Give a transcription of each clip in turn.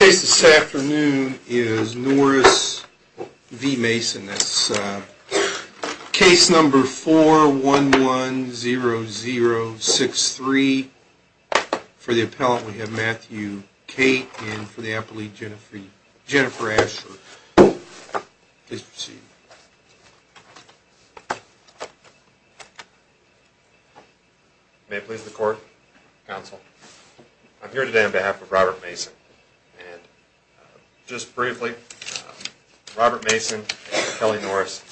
The case this afternoon is Norris v. Mason. That's case number 4110063. For the appellant we have Matthew Cate and for the appellate, Jennifer Ashford. Please proceed. May it please the court, counsel. I'm here today on behalf of Robert Mason. And just briefly, Robert Mason and Kelly Norris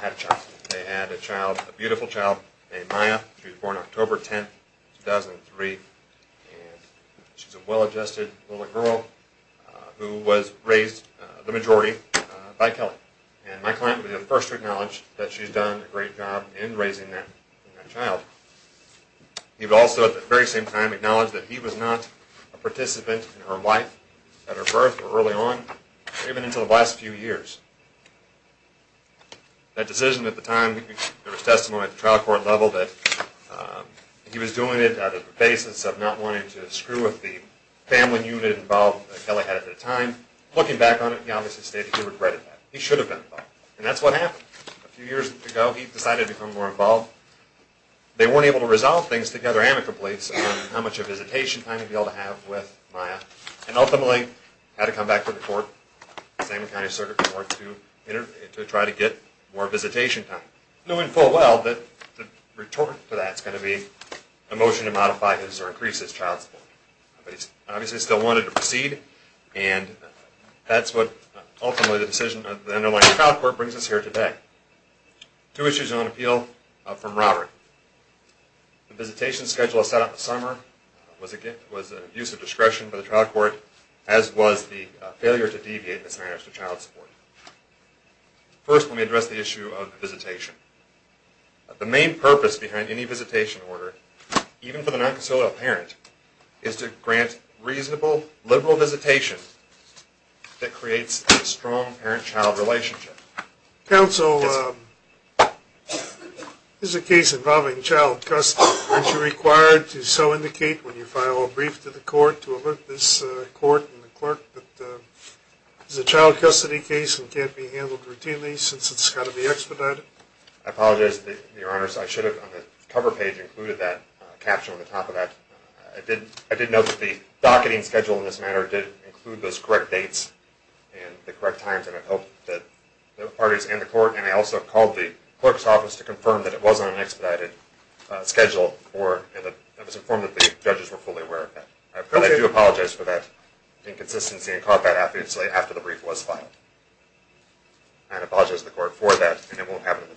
had a child. They had a child, a beautiful child named Maya. She was born October 10, 2003. And she's a well-adjusted little girl who was raised, the majority, by Kelly. And my client would be the first to acknowledge that she's done a great job in raising that child. He would also, at the very same time, acknowledge that he was not a participant in her life, at her birth or early on, even until the last few years. That decision at the time, there was testimony at the trial court level that he was doing it on the basis of not wanting to screw with the family unit involved that Kelly had at the time. Looking back on it, he obviously stated he regretted that. He should have done that. And that's what happened. A few years ago he decided to become more involved. They weren't able to resolve things together amicably on how much of visitation time he'd be able to have with Maya. And ultimately, had to come back to the court, the Salem County Circuit Court, to try to get more visitation time. Knowing full well that the retort to that is going to be a motion to modify his or increase his child support. But he obviously still wanted to proceed, and that's what ultimately the decision of the underlying trial court brings us here today. Two issues on appeal from Robert. The visitation schedule set up in the summer was an abuse of discretion by the trial court, as was the failure to deviate in its manners to child support. First, let me address the issue of visitation. The main purpose behind any visitation order, even for the non-consolidated parent, is to grant reasonable, liberal visitation that creates a strong parent-child relationship. Counsel, this is a case involving child custody. Aren't you required to so indicate when you file a brief to the court to alert this court and the clerk that this is a child custody case and can't be handled routinely since it's got to be expedited? I apologize, Your Honors. I should have, on the cover page, included that caption on the top of that. I did note that the docketing schedule in this matter did include those correct dates and the correct times. I hope that the parties and the court, and I also called the clerk's office to confirm that it wasn't an expedited schedule. I was informed that the judges were fully aware of that. I do apologize for that inconsistency and caught that after the brief was filed. I apologize to the court for that, and it won't happen in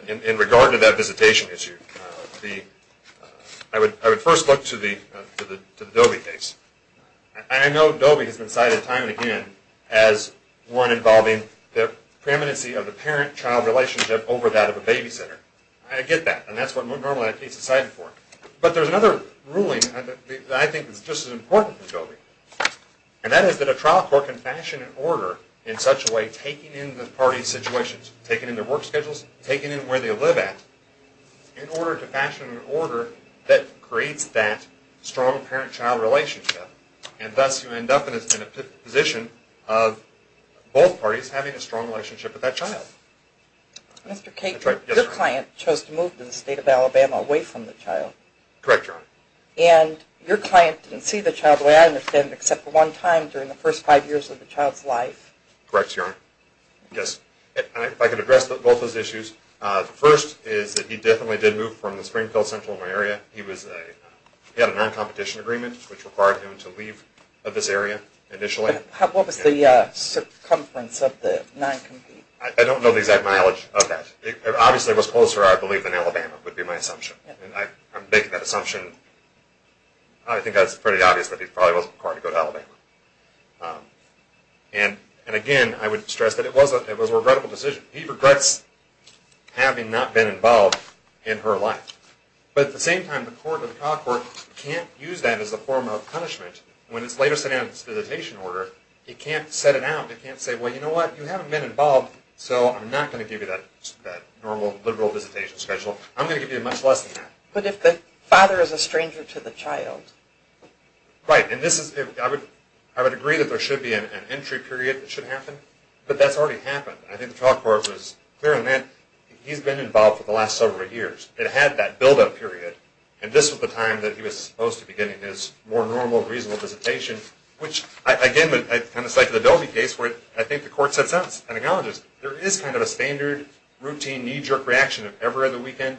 the future. In regard to that visitation issue, I would first look to the Dobie case. I know Dobie has been cited time and again as one involving the preeminency of the parent-child relationship over that of a babysitter. I get that, and that's what normally a case is cited for. But there's another ruling that I think is just as important as Dobie. And that is that a trial court can fashion an order in such a way, taking in the parties' situations, taking in their work schedules, taking in where they live at, in order to fashion an order that creates that strong parent-child relationship. And thus you end up in a position of both parties having a strong relationship with that child. Mr. Cate, your client chose to move to the state of Alabama away from the child. Correct, Your Honor. And your client didn't see the child the way I understand it except for one time during the first five years of the child's life. Correct, Your Honor. If I could address both those issues. The first is that he definitely did move from the Springfield Central area. He had a non-competition agreement which required him to leave this area initially. What was the circumference of the non-competition? I don't know the exact mileage of that. Obviously it was closer, I believe, than Alabama would be my assumption. I'm making that assumption. I think that's pretty obvious that he probably wasn't required to go to Alabama. And again, I would stress that it was a regrettable decision. He regrets having not been involved in her life. But at the same time, the Court of the College of Law can't use that as a form of punishment. When it's later sent out its visitation order, it can't set it out. It can't say, well, you know what, you haven't been involved, so I'm not going to give you that normal, liberal visitation schedule. I'm going to give you much less than that. But if the father is a stranger to the child? Right, and I would agree that there should be an entry period that should happen. But that's already happened. I think the trial court was clear on that. He's been involved for the last several years. It had that build-up period. And this was the time that he was supposed to be getting his more normal, reasonable visitation, which, again, on the side of the Dolby case, I think the court set it out as an acknowledgment. There is kind of a standard, routine, knee-jerk reaction of every other weekend,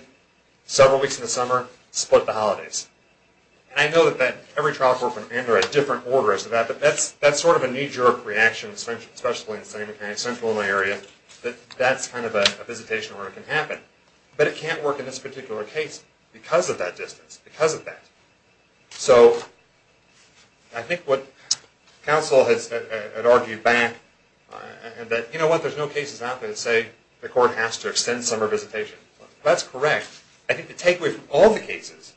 several weeks in the summer, split the holidays. And I know that every trial court would enter a different order as to that, but that's sort of a knee-jerk reaction, especially in the Central Illinois area, that that's kind of a visitation order that can happen. But it can't work in this particular case because of that distance, because of that. So I think what counsel had argued back, that, you know what, there's no cases out there that say the court has to extend summer visitation. That's correct. I think the takeaway from all the cases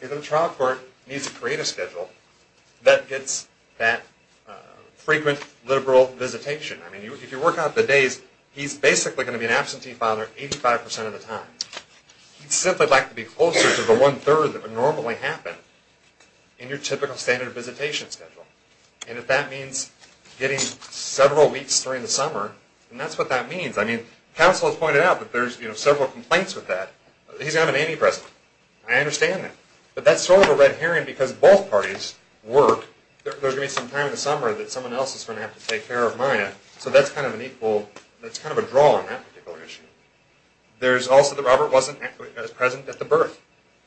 is that a trial court needs to create a schedule that gets that frequent, liberal visitation. I mean, if you work out the days, he's basically going to be an absentee filer 85 percent of the time. He'd simply like to be closer to the one-third that would normally happen in your typical standard visitation schedule. And if that means getting several weeks during the summer, then that's what that means. I mean, counsel has pointed out that there's several complaints with that. He's not an antipresent. I understand that. But that's sort of a red herring because both parties work. There's going to be some time in the summer that someone else is going to have to take care of Maya, so that's kind of an equal, that's kind of a draw on that particular issue. There's also that Robert wasn't present at the birth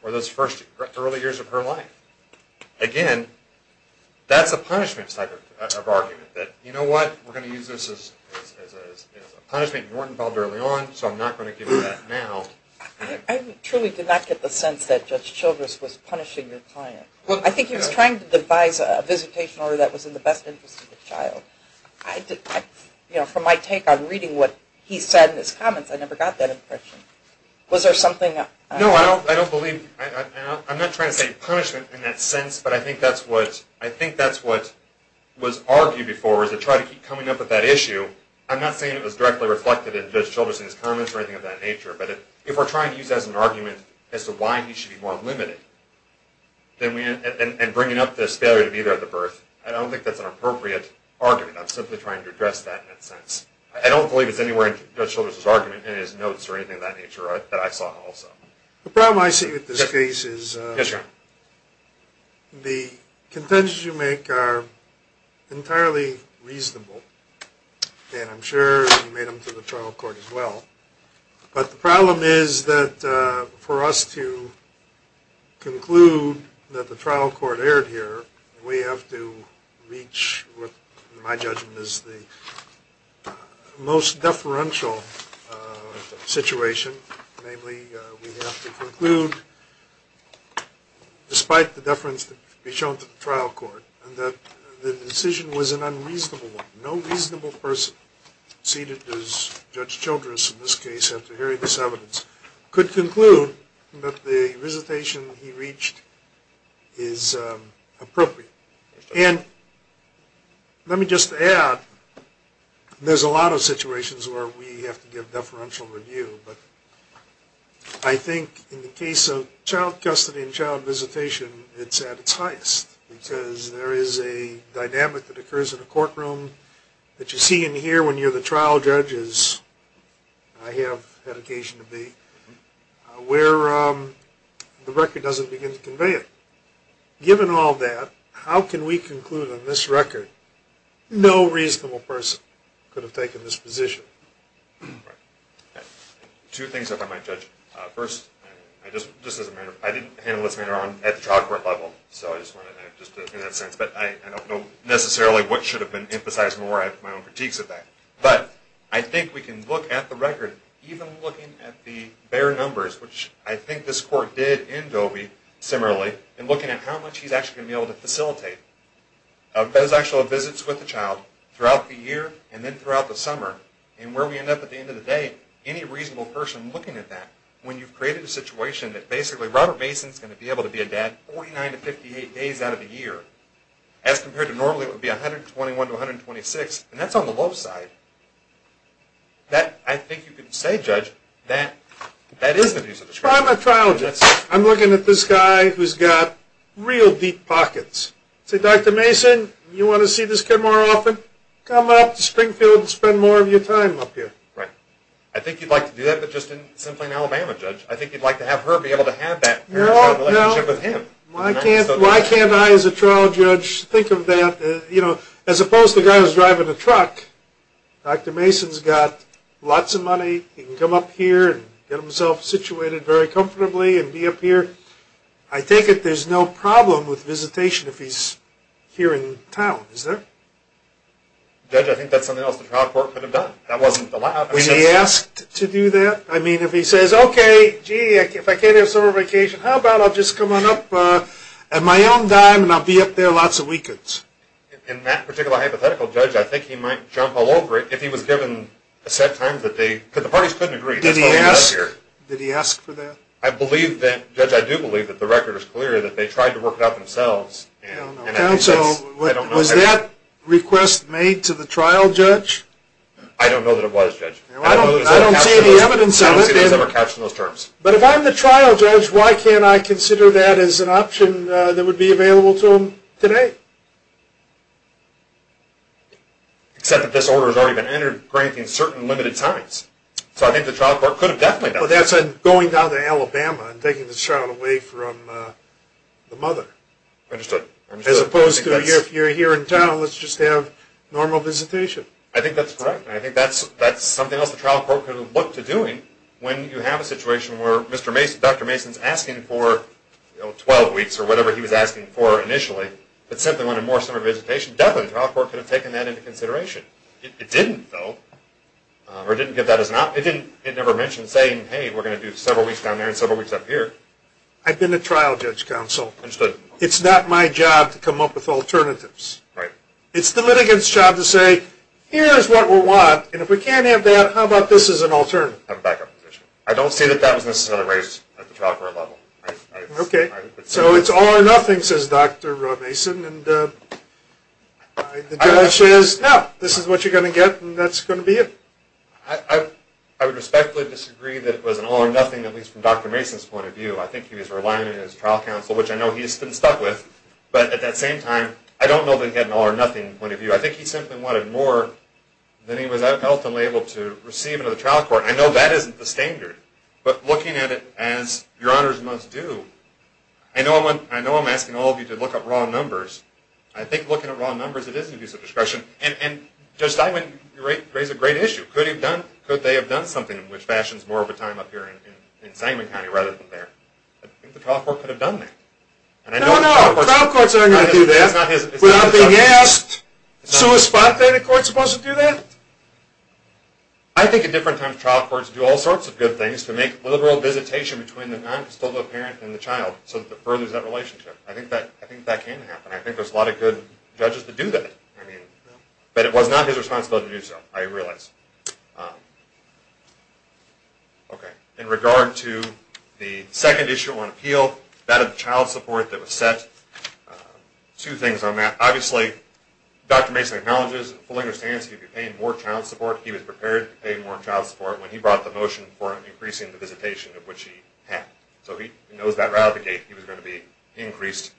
or those first early years of her life. Again, that's a punishment type of argument, that, you know what, we're going to use this as a punishment. You weren't involved early on, so I'm not going to give you that now. I truly did not get the sense that Judge Childress was punishing your client. I think he was trying to devise a visitation order that was in the best interest of the child. You know, from my take on reading what he said in his comments, I never got that impression. Was there something? No, I don't believe, I'm not trying to say punishment in that sense, but I think that's what was argued before was to try to keep coming up with that issue. I'm not saying it was directly reflected in Judge Childress's comments or anything of that nature, but if we're trying to use that as an argument as to why he should be more limited and bringing up this failure to be there at the birth, I don't think that's an appropriate argument. I'm simply trying to address that in that sense. I don't believe it's anywhere in Judge Childress's argument in his notes or anything of that nature that I saw also. The problem I see with this case is the contentions you make are entirely reasonable, and I'm sure you made them to the trial court as well. But the problem is that for us to conclude that the trial court erred here, we have to reach what in my judgment is the most deferential situation. Namely, we have to conclude despite the deference to be shown to the trial court that the decision was an unreasonable one. No reasonable person seated as Judge Childress in this case after hearing this evidence could conclude that the recitation he reached is appropriate. And let me just add there's a lot of situations where we have to give deferential review, but I think in the case of child custody and child visitation it's at its highest because there is a dynamic that occurs in a courtroom that you see and hear when you're the trial judge, as I have had occasion to be, where the record doesn't begin to convey it. Given all that, how can we conclude on this record no reasonable person could have taken this position? Two things that I might judge. First, I didn't handle this matter at the trial court level, so I just wanted to make that sense, but I don't know necessarily what should have been emphasized more. I have my own critiques of that. But I think we can look at the record, even looking at the bare numbers, which I think this court did in Doby similarly, and looking at how much he's actually going to be able to facilitate those actual visits with the child throughout the year and then throughout the summer, and where we end up at the end of the day, any reasonable person looking at that, when you've created a situation that basically Robert Mason is going to be able to be a dad 49 to 58 days out of the year, as compared to normally it would be 121 to 126, and that's on the low side, that I think you could say, Judge, that that is an abuse of discretion. I'm a trial judge. I'm looking at this guy who's got real deep pockets. Say, Dr. Mason, you want to see this kid more often? Come up to Springfield and spend more of your time up here. Right. I think you'd like to do that, but just simply in Alabama, Judge. I think you'd like to have her be able to have that relationship with him. Why can't I, as a trial judge, think of that? You know, as opposed to a guy who's driving a truck, Dr. Mason's got lots of money. He can come up here and get himself situated very comfortably and be up here. I take it there's no problem with visitation if he's here in town, is there? Judge, I think that's something else the trial court could have done. That wasn't allowed. Was he asked to do that? I mean, if he says, okay, gee, if I can't have summer vacation, how about I'll just come on up at my own dime, and I'll be up there lots of weekends? In that particular hypothetical, Judge, I think he might jump all over it if he was given a set time that they, because the parties couldn't agree. Did he ask? Did he ask for that? I believe that, Judge, I do believe that the record is clear that they tried to work it out themselves. Counsel, was that request made to the trial judge? I don't know that it was, Judge. I don't see any evidence of it. But if I'm the trial judge, why can't I consider that as an option that would be available to him today? Except that this order has already been entered granting certain limited times. So I think the trial court could have definitely done that. Well, that's going down to Alabama and taking the child away from the mother. Understood. As opposed to if you're here in town, let's just have normal visitation. I think that's correct. I think that's something else the trial court could have looked to doing when you have a situation where Dr. Mason is asking for 12 weeks or whatever he was asking for initially, but simply wanted more summer visitation. Definitely the trial court could have taken that into consideration. It didn't, though, or it didn't give that as an option. It never mentioned saying, hey, we're going to do several weeks down there and several weeks up here. I've been a trial judge, Counsel. Understood. It's not my job to come up with alternatives. Right. It's the litigant's job to say, here's what we want, and if we can't have that, how about this as an alternative? I don't see that that was necessarily raised at the trial court level. Okay. So it's all or nothing, says Dr. Mason, and the judge says, no, this is what you're going to get, and that's going to be it. I would respectfully disagree that it was an all or nothing, at least from Dr. Mason's point of view. I think he was relying on his trial counsel, which I know he's been stuck with, but at that same time, I don't know that he had an all or nothing point of view. I think he simply wanted more than he was ultimately able to receive into the trial court. I know that isn't the standard, but looking at it as Your Honors must do, I know I'm asking all of you to look up raw numbers. I think looking at raw numbers, it is an abuse of discretion, and Judge Steinman raised a great issue. Could they have done something which fashions more of a time up here in Sangamon County rather than there? I think the trial court could have done that. No, no, trial courts aren't going to do that. It's not a thing. Yes. So is spontaneous court supposed to do that? I think at different times trial courts do all sorts of good things to make liberal visitation between the non-custodial parent and the child so that it furthers that relationship. I think that can happen. I think there's a lot of good judges that do that. But it was not his responsibility to do so, I realize. In regard to the second issue on appeal, that of child support that was set, two things on that. Obviously, Dr. Mason acknowledges and fully understands he would be paying more child support if he was prepared to pay more child support when he brought the motion for increasing the visitation of which he had. So he knows that right out of the gate he was going to be increased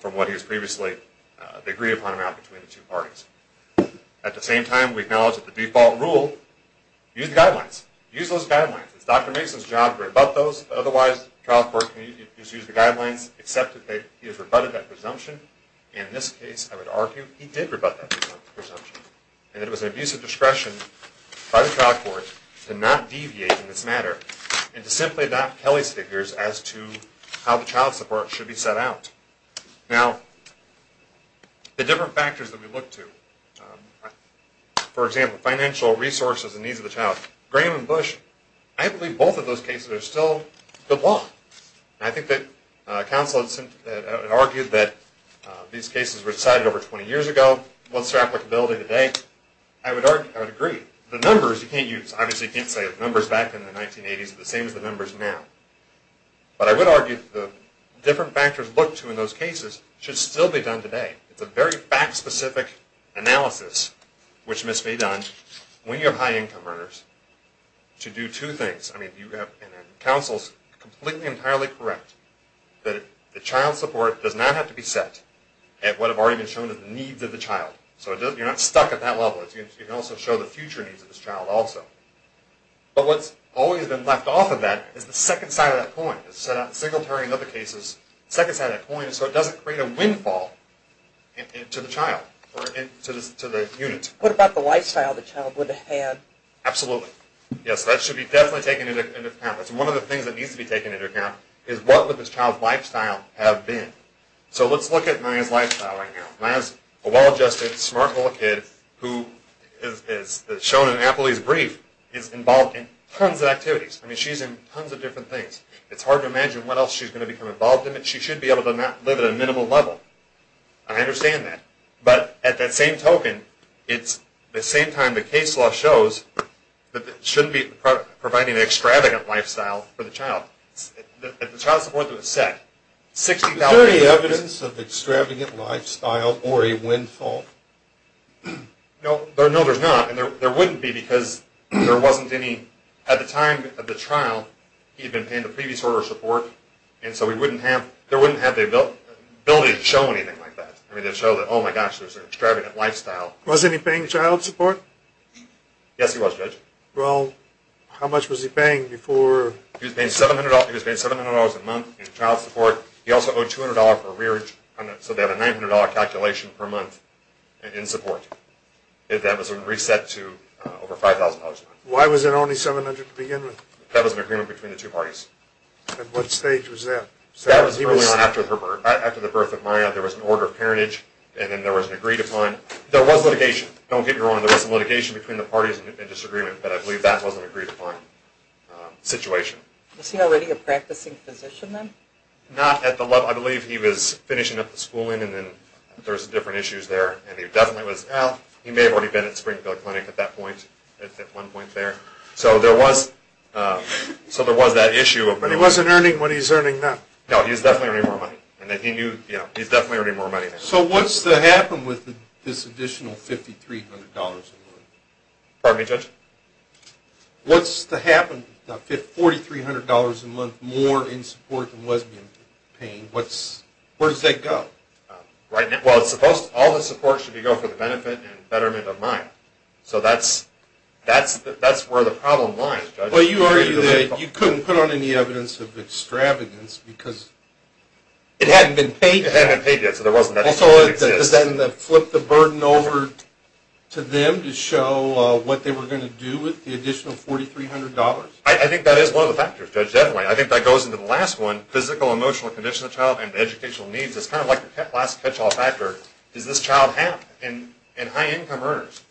from what he was previously agreed upon amount between the two parties. At the same time, we acknowledge that the default rule, use the guidelines. Use those guidelines. It's Dr. Mason's job to rebut those. Otherwise, the trial court can just use the guidelines, accept that he has rebutted that presumption. In this case, I would argue he did rebut that presumption and that it was an abuse of discretion by the trial court to not deviate in this matter and to simply adopt Kelly's figures as to how the child support should be set out. Now, the different factors that we look to, for example, financial resources and needs of the child, Graham and Bush, I believe both of those cases are still good law. I think that counsel had argued that these cases were decided over 20 years ago. What's their applicability today? I would agree. The numbers you can't use. Obviously, you can't say the numbers back in the 1980s are the same as the numbers now. But I would argue the different factors looked to in those cases should still be done today. It's a very fact-specific analysis which must be done when you have high-income earners to do two things. I mean, counsel is completely and entirely correct that the child support does not have to be set at what have already been shown as the needs of the child. So you're not stuck at that level. You can also show the future needs of this child also. But what's always been left off of that is the second side of that coin. Singletary in other cases, the second side of that coin is so it doesn't create a windfall to the child or to the unit. What about the lifestyle the child would have had? Absolutely. Yes, that should be definitely taken into account. That's one of the things that needs to be taken into account is what would this child's lifestyle have been. So let's look at Maya's lifestyle right now. Maya is a well-adjusted, smart little kid who, as shown in Appley's brief, is involved in tons of activities. I mean, she's in tons of different things. It's hard to imagine what else she's going to become involved in. She should be able to live at a minimal level. I understand that. But at that same token, it's the same time the case law shows that it shouldn't be providing an extravagant lifestyle for the child. If the child support was set, 60,000… Is there any evidence of extravagant lifestyle or a windfall? No, there's not, and there wouldn't be because there wasn't any. At the time of the trial, he had been paying the previous order of support, and so there wouldn't have the ability to show anything like that. I mean, they'd show that, oh, my gosh, there's an extravagant lifestyle. Wasn't he paying child support? Yes, he was, Judge. Well, how much was he paying before… He was paying $700 a month in child support. He also owed $200 for rearage, so they have a $900 calculation per month in support. That was reset to over $5,000 a month. Why was it only $700 to begin with? That was an agreement between the two parties. At what stage was that? That was early on after the birth of Maya. There was an order of parentage, and then there was an agreed-upon… There was litigation. Don't get me wrong. There was some litigation between the parties and disagreement, but I believe that was an agreed-upon situation. Was he already a practicing physician then? Not at the level… I believe he was finishing up the schooling, and then there was different issues there. And he definitely was… He may have already been at Springfield Clinic at that point, at one point there. So there was that issue of… He wasn't earning what he's earning now. No, he's definitely earning more money. He's definitely earning more money now. So what's to happen with this additional $5,300 a month? Pardon me, Judge? What's to happen with $4,300 a month more in support than was being paid? Where does that go? Well, all the support should go for the benefit and betterment of Maya. So that's where the problem lies, Judge. Well, you argued that you couldn't put on any evidence of extravagance because it hadn't been paid yet. It hadn't been paid yet, so there wasn't that extravagance. Also, does that flip the burden over to them to show what they were going to do with the additional $4,300? I think that is one of the factors, Judge, definitely. I think that goes into the last one, physical, emotional condition of the child and educational needs. It's kind of like the last catch-all factor. Does this child have high income earners?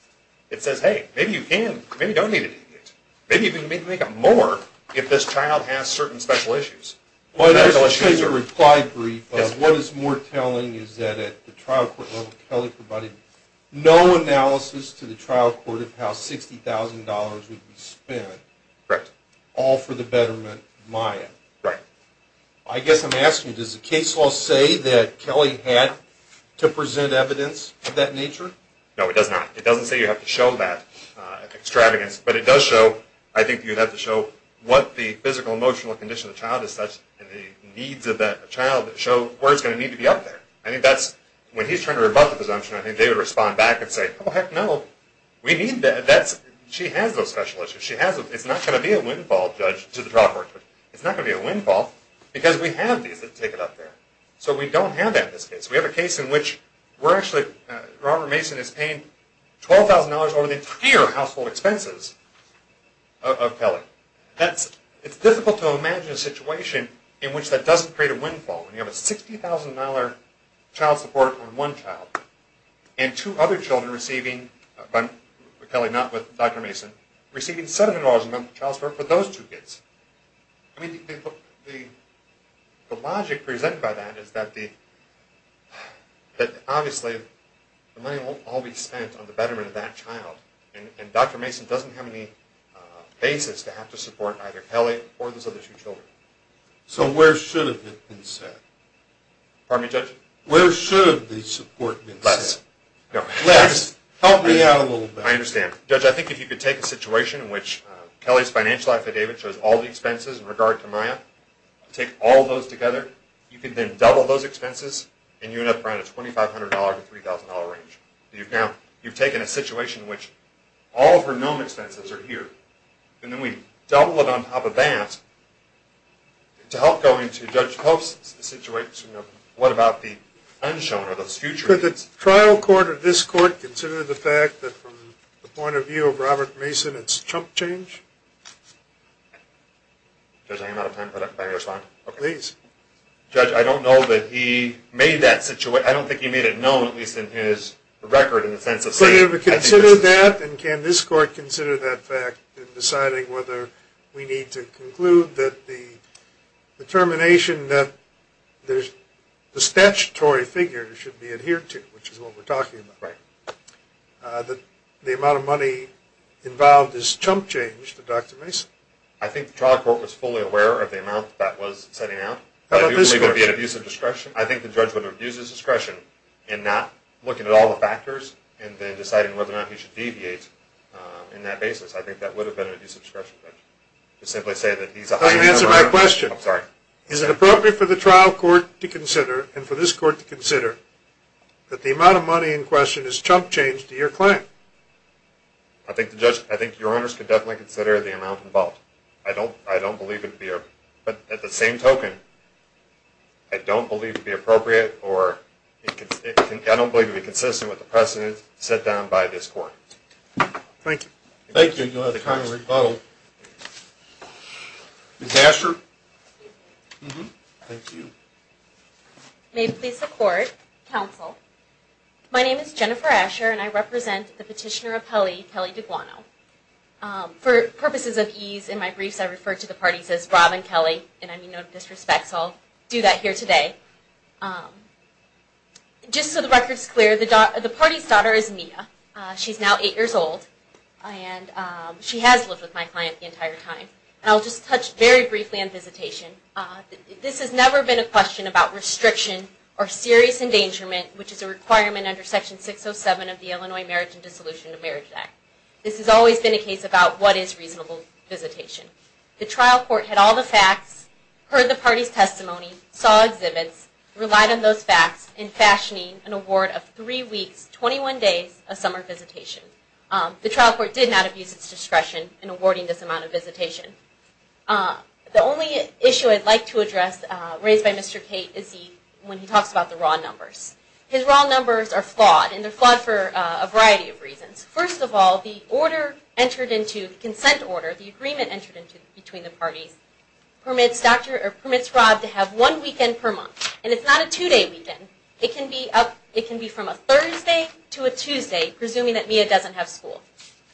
It says, hey, maybe you can, maybe you don't need to do this. Maybe you can make up more if this child has certain special issues. Well, there's a replied brief of what is more telling is that at the trial court level, Kelly provided no analysis to the trial court of how $60,000 would be spent, all for the betterment of Maya. Right. I guess I'm asking, does the case law say that Kelly had to present evidence of that nature? No, it does not. It doesn't say you have to show that extravagance. But it does show, I think you'd have to show what the physical, emotional condition of the child is such and the needs of that child that show where it's going to need to be up there. When he's trying to rebut the presumption, I think they would respond back and say, oh, heck no, she has those special issues. It's not going to be a windfall, Judge, to the trial court. It's not going to be a windfall because we have these that take it up there. So we don't have that in this case. We have a case in which we're actually, Robert Mason is paying $12,000 over the entire household expenses of Kelly. It's difficult to imagine a situation in which that doesn't create a windfall. You have a $60,000 child support on one child and two other children receiving, Kelly not with Dr. Mason, receiving $700 a month of child support for those two kids. I mean, the logic presented by that is that obviously the money won't all be spent on the betterment of that child. And Dr. Mason doesn't have any basis to have to support either Kelly or those other two children. So where should it have been set? Pardon me, Judge? Where should the support be set? Less. Help me out a little bit. I understand. Judge, I think if you could take a situation in which Kelly's financial affidavit shows all the expenses in regard to Maya, take all those together, you could then double those expenses, and you end up around a $2,500 to $3,000 range. You've taken a situation in which all of her known expenses are here, and then we double it on top of that. To help go into Judge Pope's situation, what about the unshown or the future? Could the trial court or this court consider the fact that from the point of view of Robert Mason, it's a chump change? Judge, I'm out of time. Can I respond? Please. Judge, I don't know that he made that situation. I don't think he made it known, at least in his record, in the sense of saying, I think it's a situation. Could it be considered that? And can this court consider that fact in deciding whether we need to conclude that the determination that there's a statutory figure that should be adhered to, which is what we're talking about, that the amount of money involved is chump change to Dr. Mason? I think the trial court was fully aware of the amount that was setting out. How about this court? Do you believe it would be an abuse of discretion? I think the judge would abuse his discretion in not looking at all the factors and then deciding whether or not he should deviate in that basis. I think that would have been an abuse of discretion, Judge. To simply say that he's a high number. I can answer my question. I'm sorry. Is it appropriate for the trial court to consider, and for this court to consider, that the amount of money in question is chump change to your claim? I think your honors could definitely consider the amount involved. I don't believe it would be, but at the same token, I don't believe it would be appropriate or I don't believe it would be consistent with the precedent set down by this court. Thank you. Thank you. You'll have the time to rebuttal. Ms. Asher? Thank you. May it please the court, counsel, my name is Jennifer Asher and I represent the petitioner of Kelly, Kelly Deguano. For purposes of ease in my briefs, I refer to the parties as Rob and Kelly, and I mean no disrespect, so I'll do that here today. Just so the record's clear, the party's daughter is Mia. She's now eight years old, and she has lived with my client the entire time. I'll just touch very briefly on visitation. This has never been a question about restriction or serious endangerment, which is a requirement under Section 607 of the Illinois Marriage and Dissolution of Marriage Act. This has always been a case about what is reasonable visitation. The trial court had all the facts, heard the party's testimony, saw exhibits, relied on those facts in fashioning an award of three weeks, 21 days, of summer visitation. The trial court did not abuse its discretion in awarding this amount of visitation. The only issue I'd like to address, raised by Mr. Cate, is when he talks about the raw numbers. His raw numbers are flawed, and they're flawed for a variety of reasons. First of all, the order entered into, the consent order, the agreement entered into between the parties, permits Rob to have one weekend per month, and it's not a two-day weekend. It can be from a Thursday to a Tuesday, presuming that Mia doesn't have school.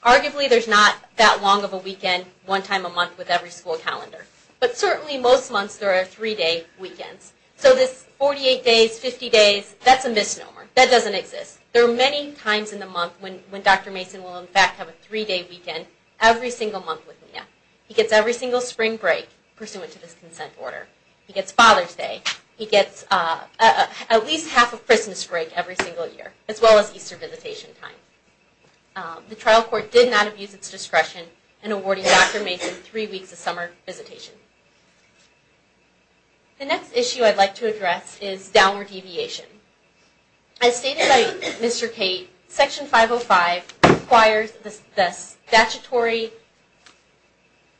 Arguably, there's not that long of a weekend, one time a month, with every school calendar. But certainly, most months, there are three-day weekends. So this 48 days, 50 days, that's a misnomer. That doesn't exist. There are many times in the month when Dr. Mason will, in fact, have a three-day weekend every single month with Mia. He gets every single spring break, pursuant to this consent order. He gets Father's Day. He gets at least half a Christmas break every single year, as well as Easter visitation time. The trial court did not abuse its discretion in awarding Dr. Mason three weeks of summer visitation. The next issue I'd like to address is downward deviation. As stated by Mr. Cate, Section 505 requires the statutory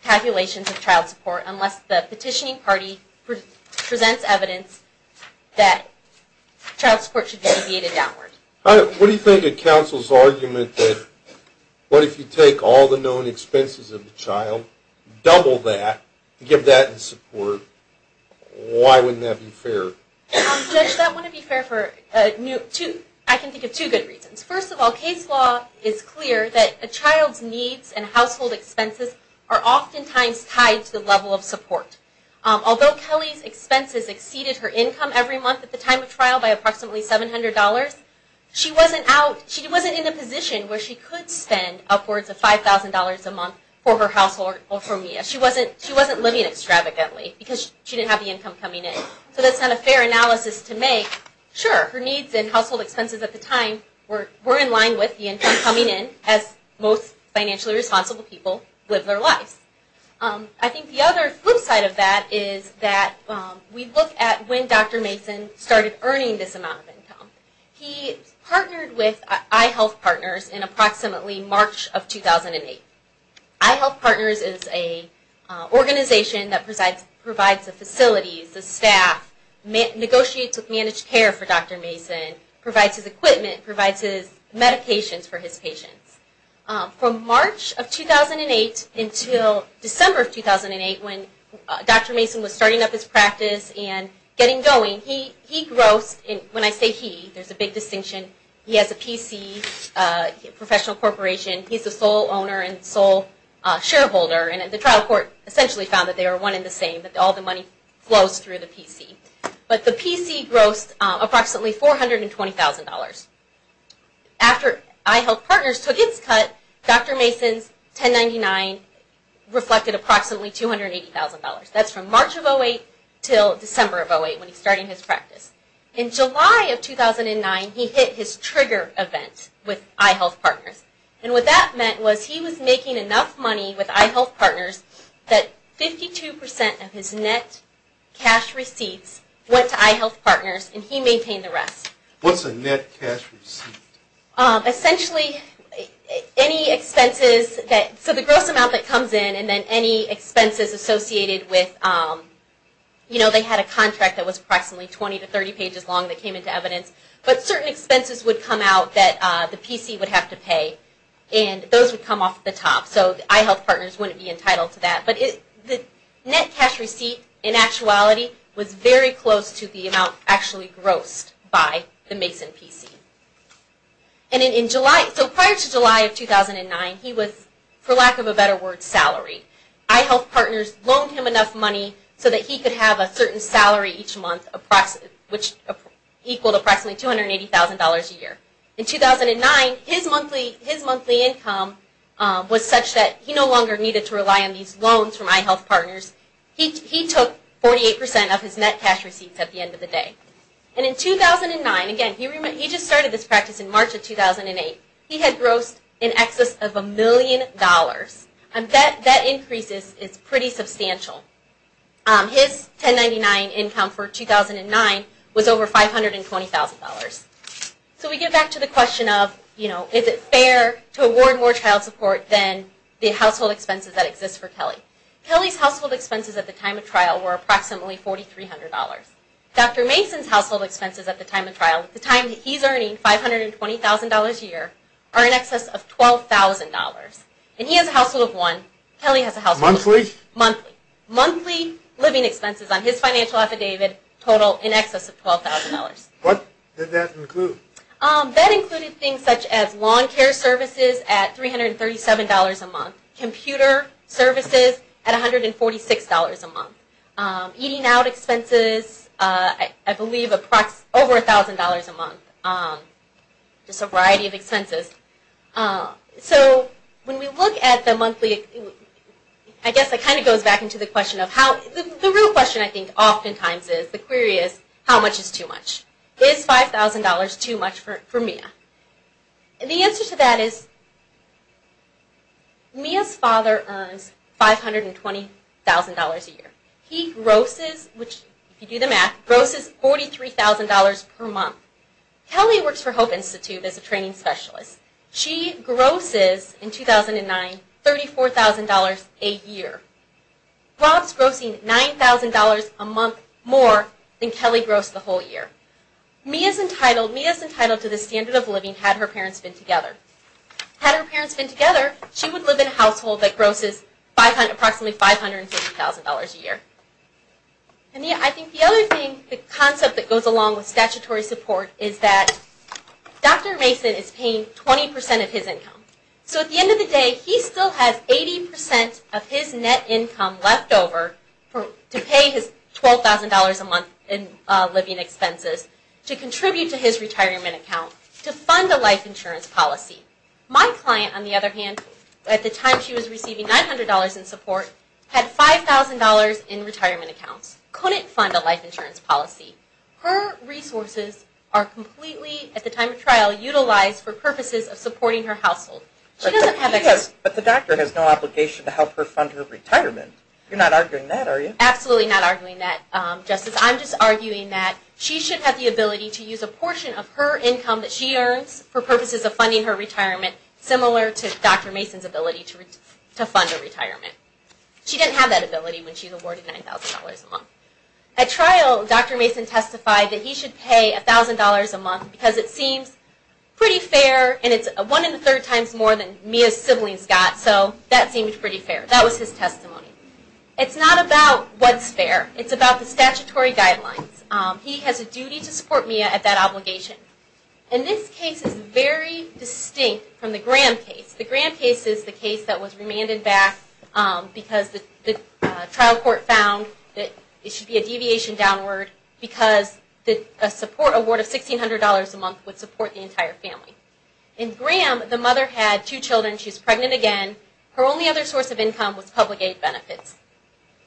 calculations of child support, unless the petitioning party presents evidence that child support should be deviated downward. What do you think of counsel's argument that, what if you take all the known expenses of the child, double that, give that in support, why wouldn't that be fair? Judge, that wouldn't be fair for, I can think of two good reasons. First of all, case law is clear that a child's needs and household expenses are oftentimes tied to the level of support. Although Kelly's expenses exceeded her income every month at the time of trial by approximately $700, she wasn't in a position where she could spend upwards of $5,000 a month for her household or for Mia. She wasn't living extravagantly because she didn't have the income coming in. So that's not a fair analysis to make. Sure, her needs and household expenses at the time were in line with the income coming in, as most financially responsible people live their lives. I think the other flip side of that is that we look at when Dr. Mason started earning this amount of income. He partnered with iHealth Partners in approximately March of 2008. iHealth Partners is an organization that provides the facilities, the staff, negotiates with managed care for Dr. Mason, provides his equipment, provides his medications for his patients. From March of 2008 until December of 2008, when Dr. Mason was starting up his practice and getting going, he grossed, when I say he, there's a big distinction, he has a PC, professional corporation, he's the sole owner and sole shareholder. And the trial court essentially found that they were one in the same, that all the money flows through the PC. But the PC grossed approximately $420,000. After iHealth Partners took its cut, Dr. Mason's $1099 reflected approximately $280,000. That's from March of 2008 until December of 2008 when he was starting his practice. In July of 2009, he hit his trigger event with iHealth Partners. And what that meant was he was making enough money with iHealth Partners that 52% of his net cash receipts went to iHealth Partners and he maintained the rest. What's a net cash receipt? Essentially, any expenses, so the gross amount that comes in and then any expenses associated with, you know, they had a contract that was approximately 20 to 30 pages long that came into evidence. But certain expenses would come out that the PC would have to pay and those would come off the top. So iHealth Partners wouldn't be entitled to that. But the net cash receipt in actuality was very close to the amount actually grossed by the Mason PC. And in July, so prior to July of 2009, he was, for lack of a better word, salary. iHealth Partners loaned him enough money so that he could have a certain salary each month, which equaled approximately $280,000 a year. In 2009, his monthly income was such that he no longer needed to rely on these loans from iHealth Partners. He took 48% of his net cash receipts at the end of the day. And in 2009, again, he just started this practice in March of 2008, he had grossed in excess of a million dollars. And that increase is pretty substantial. His 1099 income for 2009 was over $520,000. So we get back to the question of, you know, is it fair to award more child support than the household expenses that exist for Kelly? Kelly's household expenses at the time of trial were approximately $4,300. Dr. Mason's household expenses at the time of trial, at the time that he's earning $520,000 a year, are in excess of $12,000. And he has a household of one, Kelly has a household of one. Monthly. Monthly living expenses on his financial affidavit total in excess of $12,000. What did that include? That included things such as lawn care services at $337 a month, computer services at $146 a month, eating out expenses, I believe, over $1,000 a month. Just a variety of expenses. So when we look at the monthly, I guess it kind of goes back into the question of how, the real question I think oftentimes is, the query is, how much is too much? Is $5,000 too much for Mia? And the answer to that is Mia's father earns $520,000 a year. He grosses, if you do the math, grosses $43,000 per month. Kelly works for Hope Institute as a training specialist. She grosses, in 2009, $34,000 a year. Rob's grossing $9,000 a month more than Kelly grossed the whole year. Mia's entitled to this standard of living had her parents been together. Had her parents been together, she would live in a household that grosses approximately $550,000 a year. I think the other thing, the concept that goes along with statutory support is that Dr. Mason is paying 20% of his income. So at the end of the day, he still has 80% of his net income left over to pay his $12,000 a month in living expenses to contribute to his retirement account to fund a life insurance policy. My client, on the other hand, at the time she was receiving $900 in support, had $5,000 in retirement accounts, couldn't fund a life insurance policy. Her resources are completely, at the time of trial, utilized for purposes of supporting her household. But the doctor has no obligation to help her fund her retirement. You're not arguing that, are you? Absolutely not arguing that, Justice. I'm just arguing that she should have the ability to use a portion of her income that she earns for purposes of funding her retirement, similar to Dr. Mason's ability to fund her retirement. She didn't have that ability when she was awarded $9,000 a month. At trial, Dr. Mason testified that he should pay $1,000 a month because it seems pretty fair, and it's one in the third times more than Mia's siblings got, so that seemed pretty fair. That was his testimony. It's not about what's fair. It's about the statutory guidelines. He has a duty to support Mia at that obligation. And this case is very distinct from the Graham case. The Graham case is the case that was remanded back because the trial court found that it should be a deviation downward because a support award of $1,600 a month would support the entire family. In Graham, the mother had two children. She was pregnant again. Her only other source of income was public aid benefits.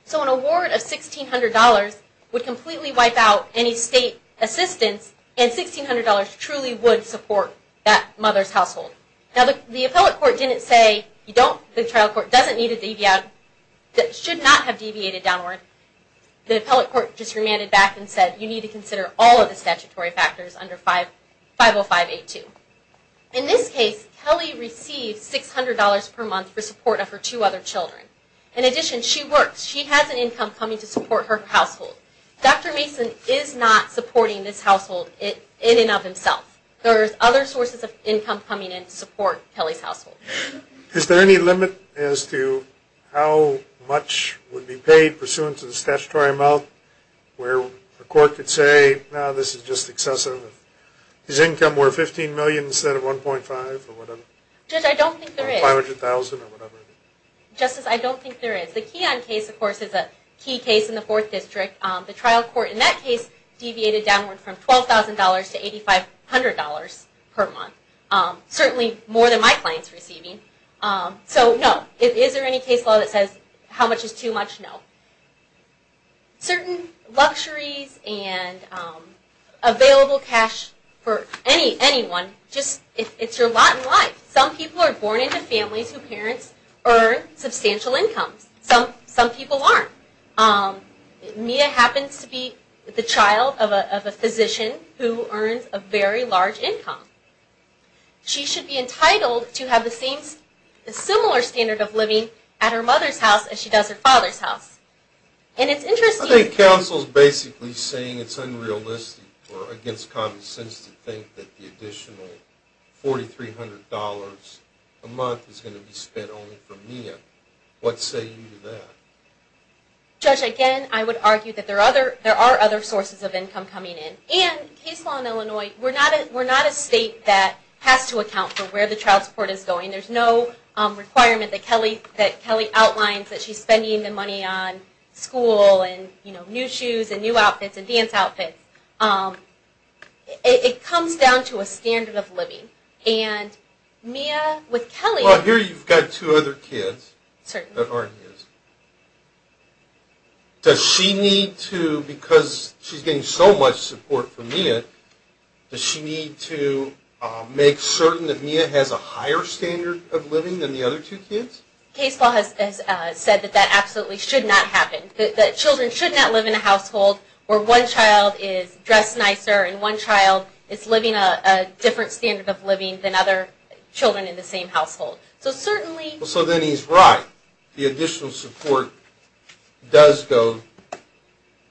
So an award of $1,600 would completely wipe out any state assistance, and $1,600 truly would support that mother's household. Now, the appellate court didn't say the trial court doesn't need to deviate, should not have deviated downward. The appellate court just remanded back and said, you need to consider all of the statutory factors under 50582. In this case, Kelly received $600 per month for support of her two other children. In addition, she works. She has an income coming to support her household. Dr. Mason is not supporting this household in and of himself. There are other sources of income coming in to support Kelly's household. Is there any limit as to how much would be paid pursuant to the statutory amount where the court could say, no, this is just excessive? His income were $15 million instead of $1.5 or whatever? Judge, I don't think there is. $500,000 or whatever? Justice, I don't think there is. The Keon case, of course, is a key case in the Fourth District. The trial court in that case deviated downward from $12,000 to $8,500 per month, certainly more than my client is receiving. So, no. Is there any case law that says how much is too much? No. Some people are born into families whose parents earn substantial incomes. Some people aren't. Mia happens to be the child of a physician who earns a very large income. She should be entitled to have a similar standard of living at her mother's house as she does at her father's house. I think counsel is basically saying it's unrealistic or against common sense to think that the additional $4,300 a month is going to be spent only for Mia. What say you to that? Judge, again, I would argue that there are other sources of income coming in. And case law in Illinois, we're not a state that has to account for where the trial court is going. There's no requirement that Kelly outlines that she's spending the money on school and new shoes and new outfits and dance outfits. It comes down to a standard of living. And Mia with Kelly- Well, here you've got two other kids that aren't his. Does she need to, because she's getting so much support from Mia, does she need to make certain that Mia has a higher standard of living than the other two kids? Case law has said that that absolutely should not happen. That children should not live in a household where one child is dressed nicer and one child is living a different standard of living than other children in the same household. So certainly- So then he's right. The additional support does go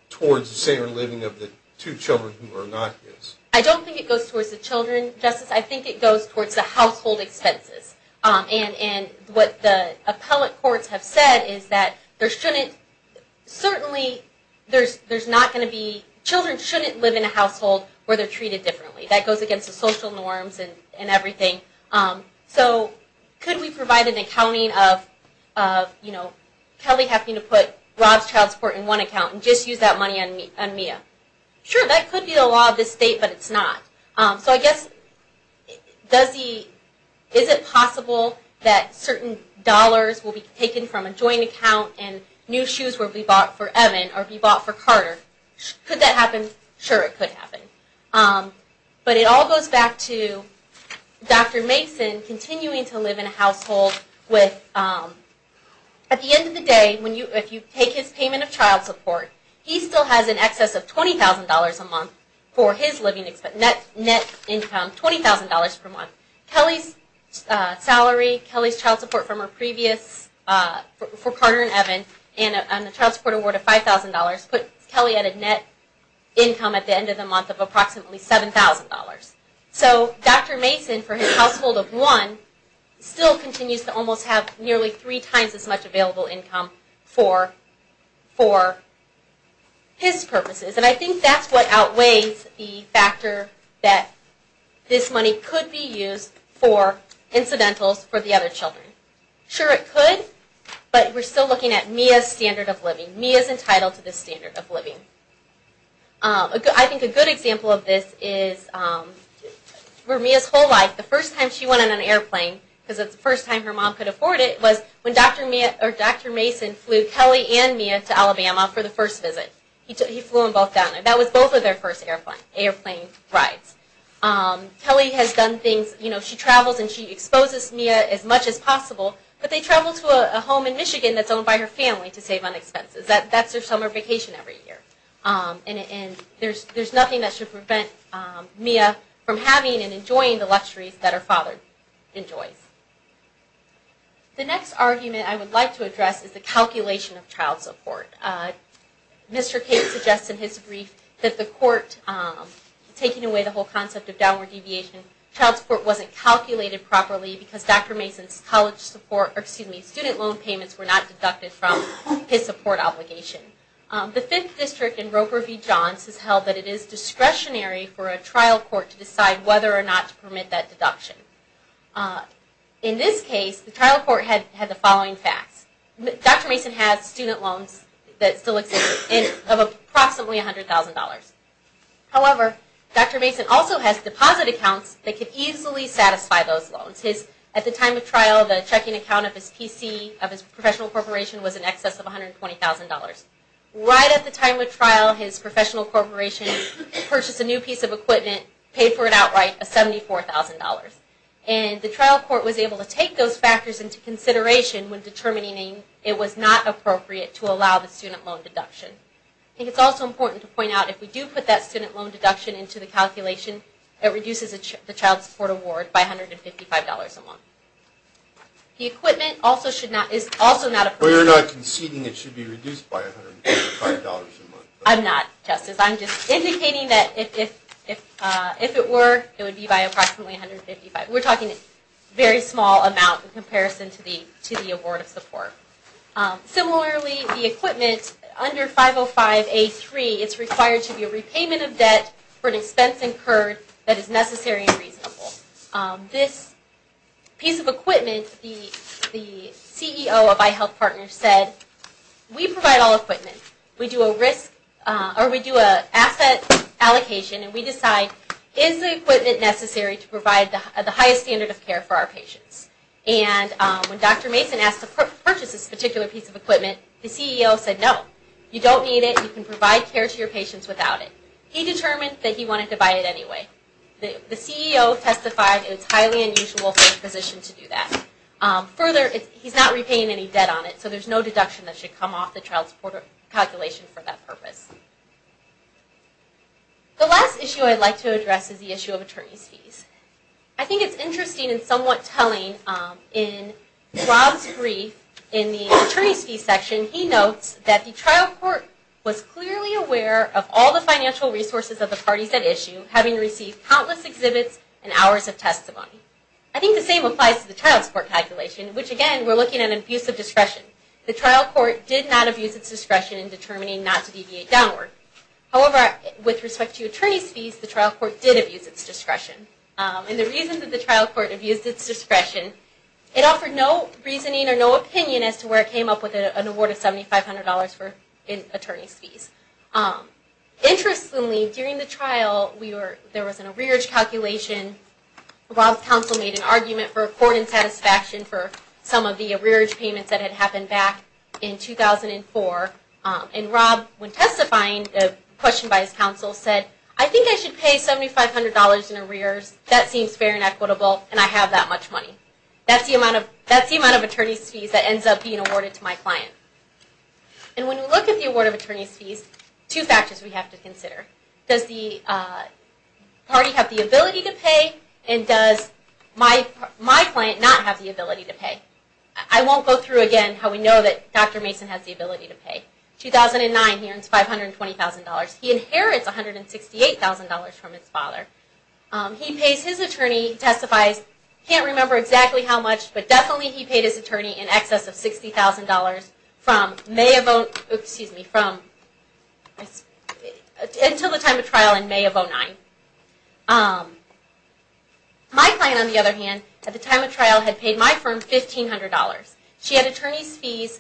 towards the standard of living of the two children who are not his. I don't think it goes towards the children, Justice. I think it goes towards the household expenses. And what the appellate courts have said is that there shouldn't- certainly there's not going to be- children shouldn't live in a household where they're treated differently. That goes against the social norms and everything. So could we provide an accounting of Kelly having to put Rob's child support in one account and just use that money on Mia? Sure, that could be the law of this state, but it's not. So I guess does he- is it possible that certain dollars will be taken from a joint account and new shoes will be bought for Evan or be bought for Carter? Could that happen? Sure, it could happen. But it all goes back to Dr. Mason continuing to live in a household with- at the end of the day, if you take his payment of child support, he still has in excess of $20,000 a month for his living- net income, $20,000 per month. Kelly's salary, Kelly's child support from her previous- for Carter and Evan, and the child support award of $5,000 put Kelly at a net income at the end of the month of approximately $7,000. So Dr. Mason, for his household of one, still continues to almost have nearly three times as much available income for his purposes. And I think that's what outweighs the factor that this money could be used for incidentals for the other children. Sure, it could, but we're still looking at Mia's standard of living. Mia's entitled to this standard of living. I think a good example of this is for Mia's whole life, the first time she went on an airplane- because it's the first time her mom could afford it- was when Dr. Mason flew Kelly and Mia to Alabama for the first visit. He flew them both down, and that was both of their first airplane rides. Kelly has done things- she travels and she exposes Mia as much as possible, but they travel to a home in Michigan that's owned by her family to save on expenses. That's their summer vacation every year. And there's nothing that should prevent Mia from having and enjoying the luxuries that her father enjoys. The next argument I would like to address is the calculation of child support. Mr. Case suggests in his brief that the court, taking away the whole concept of downward deviation, child support wasn't calculated properly because Dr. Mason's student loan payments were not deducted from his support obligation. The Fifth District in Roper v. Johns has held that it is discretionary for a trial court to decide whether or not to permit that deduction. In this case, the trial court had the following facts. Dr. Mason has student loans that still exist of approximately $100,000. However, Dr. Mason also has deposit accounts that could easily satisfy those loans. At the time of trial, the checking account of his PC, of his professional corporation, was in excess of $120,000. Right at the time of trial, his professional corporation purchased a new piece of equipment, paid for it outright, a $74,000. And the trial court was able to take those factors into consideration when determining it was not appropriate to allow the student loan deduction. I think it's also important to point out if we do put that student loan deduction into the calculation, it reduces the child support award by $155 a month. The equipment also should not, is also not appropriate. Well, you're not conceding it should be reduced by $155 a month. I'm not, Justice. I'm just indicating that if it were, it would be by approximately $155. We're talking a very small amount in comparison to the award of support. Similarly, the equipment under 505A3 is required to be a repayment of debt for an expense incurred that is necessary and reasonable. This piece of equipment, the CEO of iHealth Partners said, we provide all equipment. We do a risk, or we do an asset allocation, and we decide, is the equipment necessary to provide the highest standard of care for our patients? And when Dr. Mason asked to purchase this particular piece of equipment, the CEO said, no. You don't need it. You can provide care to your patients without it. He determined that he wanted to buy it anyway. The CEO testified it's highly unusual for a physician to do that. Further, he's not repaying any debt on it, so there's no deduction that should come off the child support calculation for that purpose. The last issue I'd like to address is the issue of attorney's fees. I think it's interesting and somewhat telling in Rob's brief in the attorney's fee section, he notes that the trial court was clearly aware of all the financial resources of the parties at issue, having received countless exhibits and hours of testimony. I think the same applies to the child support calculation, which again, we're looking at an abuse of discretion. The trial court did not abuse its discretion in determining not to deviate downward. However, with respect to attorney's fees, the trial court did abuse its discretion. And the reason that the trial court abused its discretion, it offered no reasoning or no opinion as to where it came up with an award of $7,500 for attorney's fees. Interestingly, during the trial, there was an arrearage calculation. Rob's counsel made an argument for court insatisfaction for some of the arrearage payments that had happened back in 2004. And Rob, when testifying, questioned by his counsel, said, I think I should pay $7,500 in arrears. That seems fair and equitable, and I have that much money. That's the amount of attorney's fees that ends up being awarded to my client. And when we look at the award of attorney's fees, two factors we have to consider. Does the party have the ability to pay? And does my client not have the ability to pay? I won't go through again how we know that Dr. Mason has the ability to pay. 2009, he earns $520,000. He inherits $168,000 from his father. He pays his attorney, testifies, can't remember exactly how much, but definitely he paid his attorney in excess of $60,000 until the time of trial in May of 2009. My client, on the other hand, at the time of trial, had paid my firm $1,500. She had attorney's fees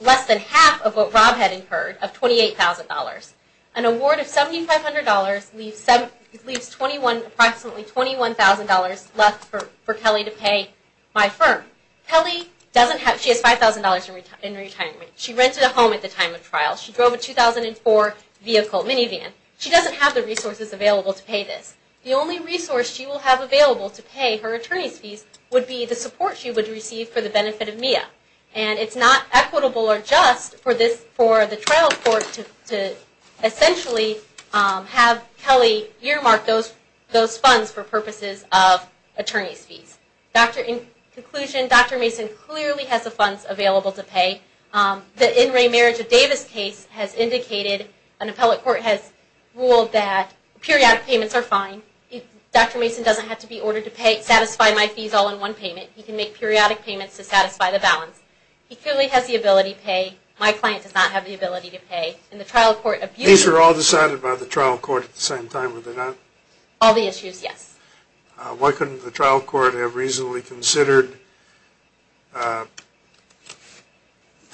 less than half of what Rob had incurred of $28,000. An award of $7,500 leaves approximately $21,000 left for Kelly to pay my firm. Kelly has $5,000 in retirement. She rented a home at the time of trial. She drove a 2004 minivan. She doesn't have the resources available to pay this. The only resource she will have available to pay her attorney's fees would be the support she would receive for the benefit of Mia. And it's not equitable or just for the trial court to essentially have Kelly earmark those funds for purposes of attorney's fees. In conclusion, Dr. Mason clearly has the funds available to pay. The In Re Marriage of Davis case has indicated, an appellate court has ruled that periodic payments are fine. Dr. Mason doesn't have to be ordered to satisfy my fees all in one payment. He can make periodic payments to satisfy the balance. He clearly has the ability to pay. My client does not have the ability to pay. These are all decided by the trial court at the same time, are they not? All the issues, yes. Why couldn't the trial court have reasonably considered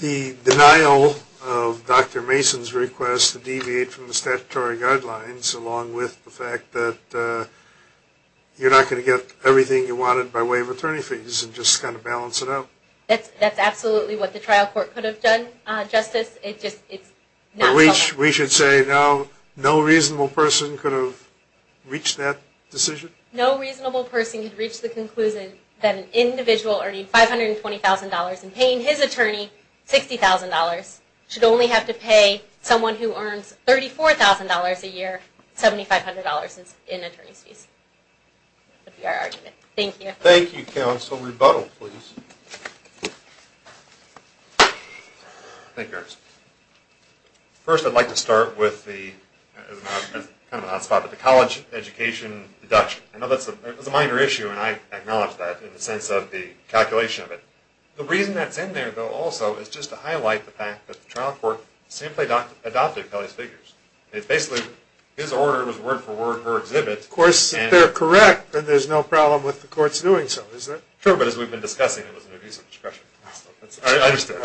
the denial of Dr. Mason's request to deviate from the statutory guidelines along with the fact that you're not going to get everything you wanted by way of attorney fees and just kind of balance it out? That's absolutely what the trial court could have done, Justice. We should say no reasonable person could have reached that decision? No reasonable person could have reached the conclusion that an individual earning $520,000 and paying his attorney $60,000 should only have to pay someone who earns $34,000 a year, $7,500 in attorney's fees. That would be our argument. Thank you. Thank you, counsel. Rebuttal, please. Thank you, Your Honor. First, I'd like to start with the college education deduction. I know that's a minor issue, and I acknowledge that in the sense of the calculation of it. The reason that's in there, though, also is just to highlight the fact that the trial court simply adopted Kelly's figures. It's basically his order was word for word, her exhibit. Of course, if they're correct, then there's no problem with the courts doing so, is there? Sure, but as we've been discussing, it was an abuse of discretion. I understand.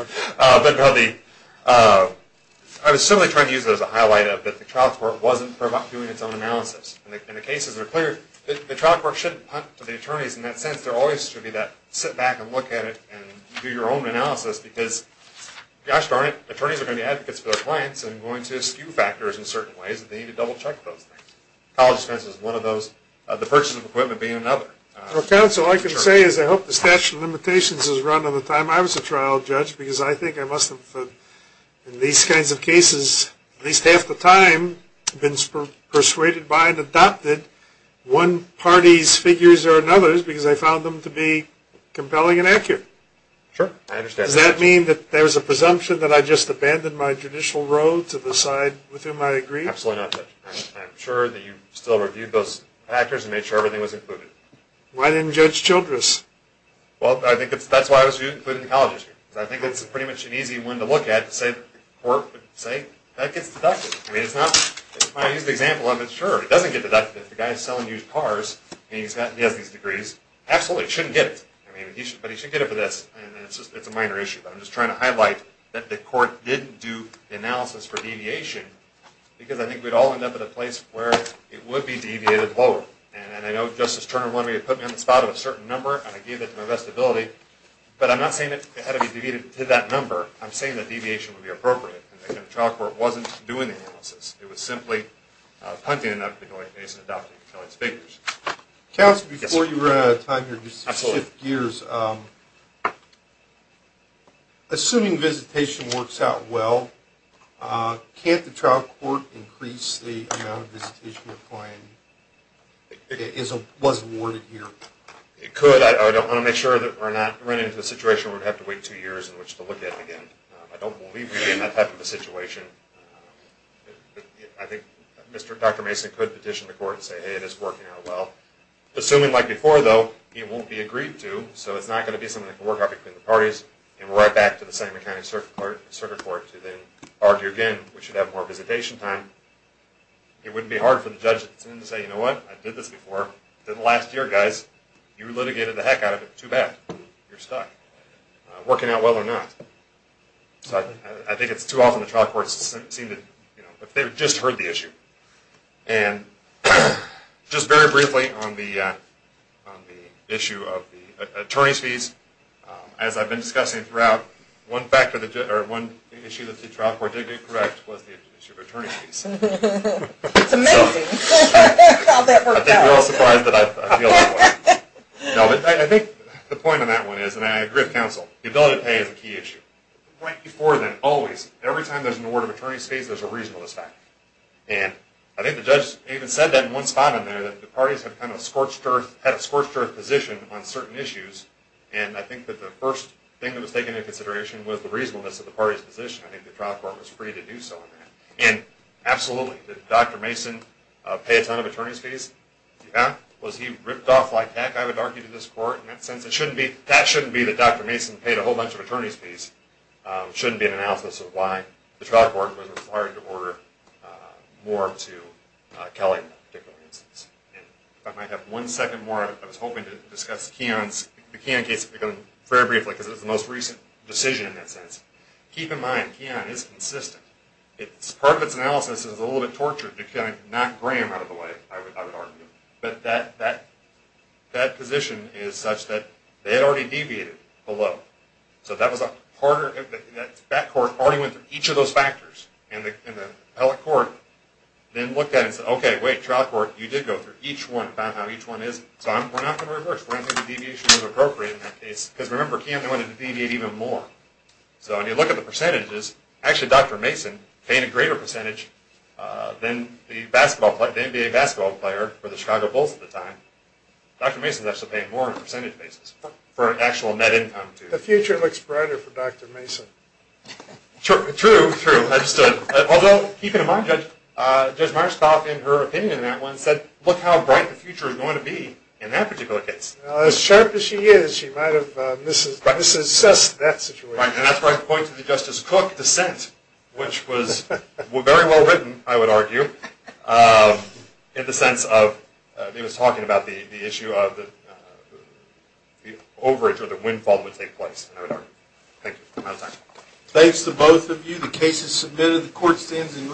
I was simply trying to use it as a highlight of that the trial court wasn't doing its own analysis. In the cases that are cleared, the trial court shouldn't punt to the attorneys in that sense. There always should be that sit back and look at it and do your own analysis because, gosh darn it, attorneys are going to be advocates for their clients and going to skew factors in certain ways, and they need to double check those things. College expense is one of those. The purchase of equipment being another. Counsel, all I can say is I hope the statute of limitations is run on the time I was a trial judge because I think I must have, in these kinds of cases, at least half the time been persuaded by and adopted one party's figures or another's because I found them to be compelling and accurate. Sure, I understand. Does that mean that there's a presumption that I just abandoned my judicial road to decide with whom I agree? Absolutely not, Judge. I'm sure that you still reviewed those factors and made sure everything was included. Why didn't Judge Childress? Well, I think that's why I was including the colleges here because I think it's pretty much an easy one to look at to say the court would say that gets deducted. I mean, it's not. I used the example of it. Sure, it doesn't get deducted if the guy is selling used cars and he has these degrees. Absolutely, he shouldn't get it, but he should get it for this, and it's a minor issue. I'm just trying to highlight that the court didn't do the analysis for deviation because I think we'd all end up at a place where it would be deviated lower. And I know Justice Turner wanted me to put me on the spot of a certain number, and I gave it to my best ability, but I'm not saying it had to be deviated to that number. I'm saying that deviation would be appropriate, and the trial court wasn't doing the analysis. It was simply punting it up and going, Mason, adopt it. You can tell it's figures. Counsel, before you run out of time here, just to shift gears, assuming visitation works out well, can't the trial court increase the amount of time that was awarded here? It could. I don't want to make sure that we're not running into a situation where we would have to wait two years in which to look at it again. I don't believe we'd be in that type of a situation. I think Dr. Mason could petition the court and say, hey, this is working out well. Assuming like before, though, it won't be agreed to, so it's not going to be something that can work out between the parties, and we're right back to the same accounting circuit court to then argue again. We should have more visitation time. It wouldn't be hard for the judge to say, you know what? I did this before. The last year, guys, you litigated the heck out of it. Too bad. You're stuck. Working out well or not. I think it's too often the trial courts seem to have just heard the issue. And just very briefly on the issue of the attorney's fees, as I've been discussing throughout, one issue that the trial court did get correct was the issue of attorney's fees. It's amazing how that worked out. I think we're all surprised that I feel that way. No, but I think the point on that one is, and I agree with counsel, the ability to pay is a key issue. The point before then, always, every time there's an award of attorney's fees, there's a reasonableness factor. And I think the judge even said that in one spot in there, that the parties have kind of scorched earth, had a scorched earth position on certain issues, and I think that the first thing that was taken into consideration was the reasonableness of the party's position. I think the trial court was free to do so in that. And absolutely, did Dr. Mason pay a ton of attorney's fees? Yeah. Was he ripped off like heck, I would argue, to this court? In that sense, it shouldn't be. That shouldn't be that Dr. Mason paid a whole bunch of attorney's fees. It shouldn't be an analysis of why the trial court was required to order more to Kelly in that particular instance. And if I might have one second more, I was hoping to discuss Keon's case fairly briefly, because it was the most recent decision in that sense. Keep in mind, Keon is consistent. Part of its analysis is a little bit tortured to kind of knock Graham out of the way, I would argue. But that position is such that they had already deviated below. So that court already went through each of those factors in the appellate court, then looked at it and said, okay, wait, trial court, you did go through each one and found out how each one is. So we're not going to reverse. We're not going to do deviation as appropriate in that case. Because remember, Keon wanted to deviate even more. So when you look at the percentages, actually Dr. Mason paid a greater percentage than the NBA basketball player for the Chicago Bulls at the time. Dr. Mason is actually paying more on a percentage basis for an actual net income, too. The future looks brighter for Dr. Mason. True, true. Although, keep in mind, Judge Marskoff, in her opinion in that one, said, look how bright the future is going to be in that particular case. Well, as sharp as she is, she might have misassessed that situation. Right. And that's where I point to the Justice Cook dissent, which was very well written, I would argue, in the sense of he was talking about the issue of the overage or the windfall that would take place. Thank you. I'm out of time. Thanks to both of you. The case is submitted. The court stands adjourned.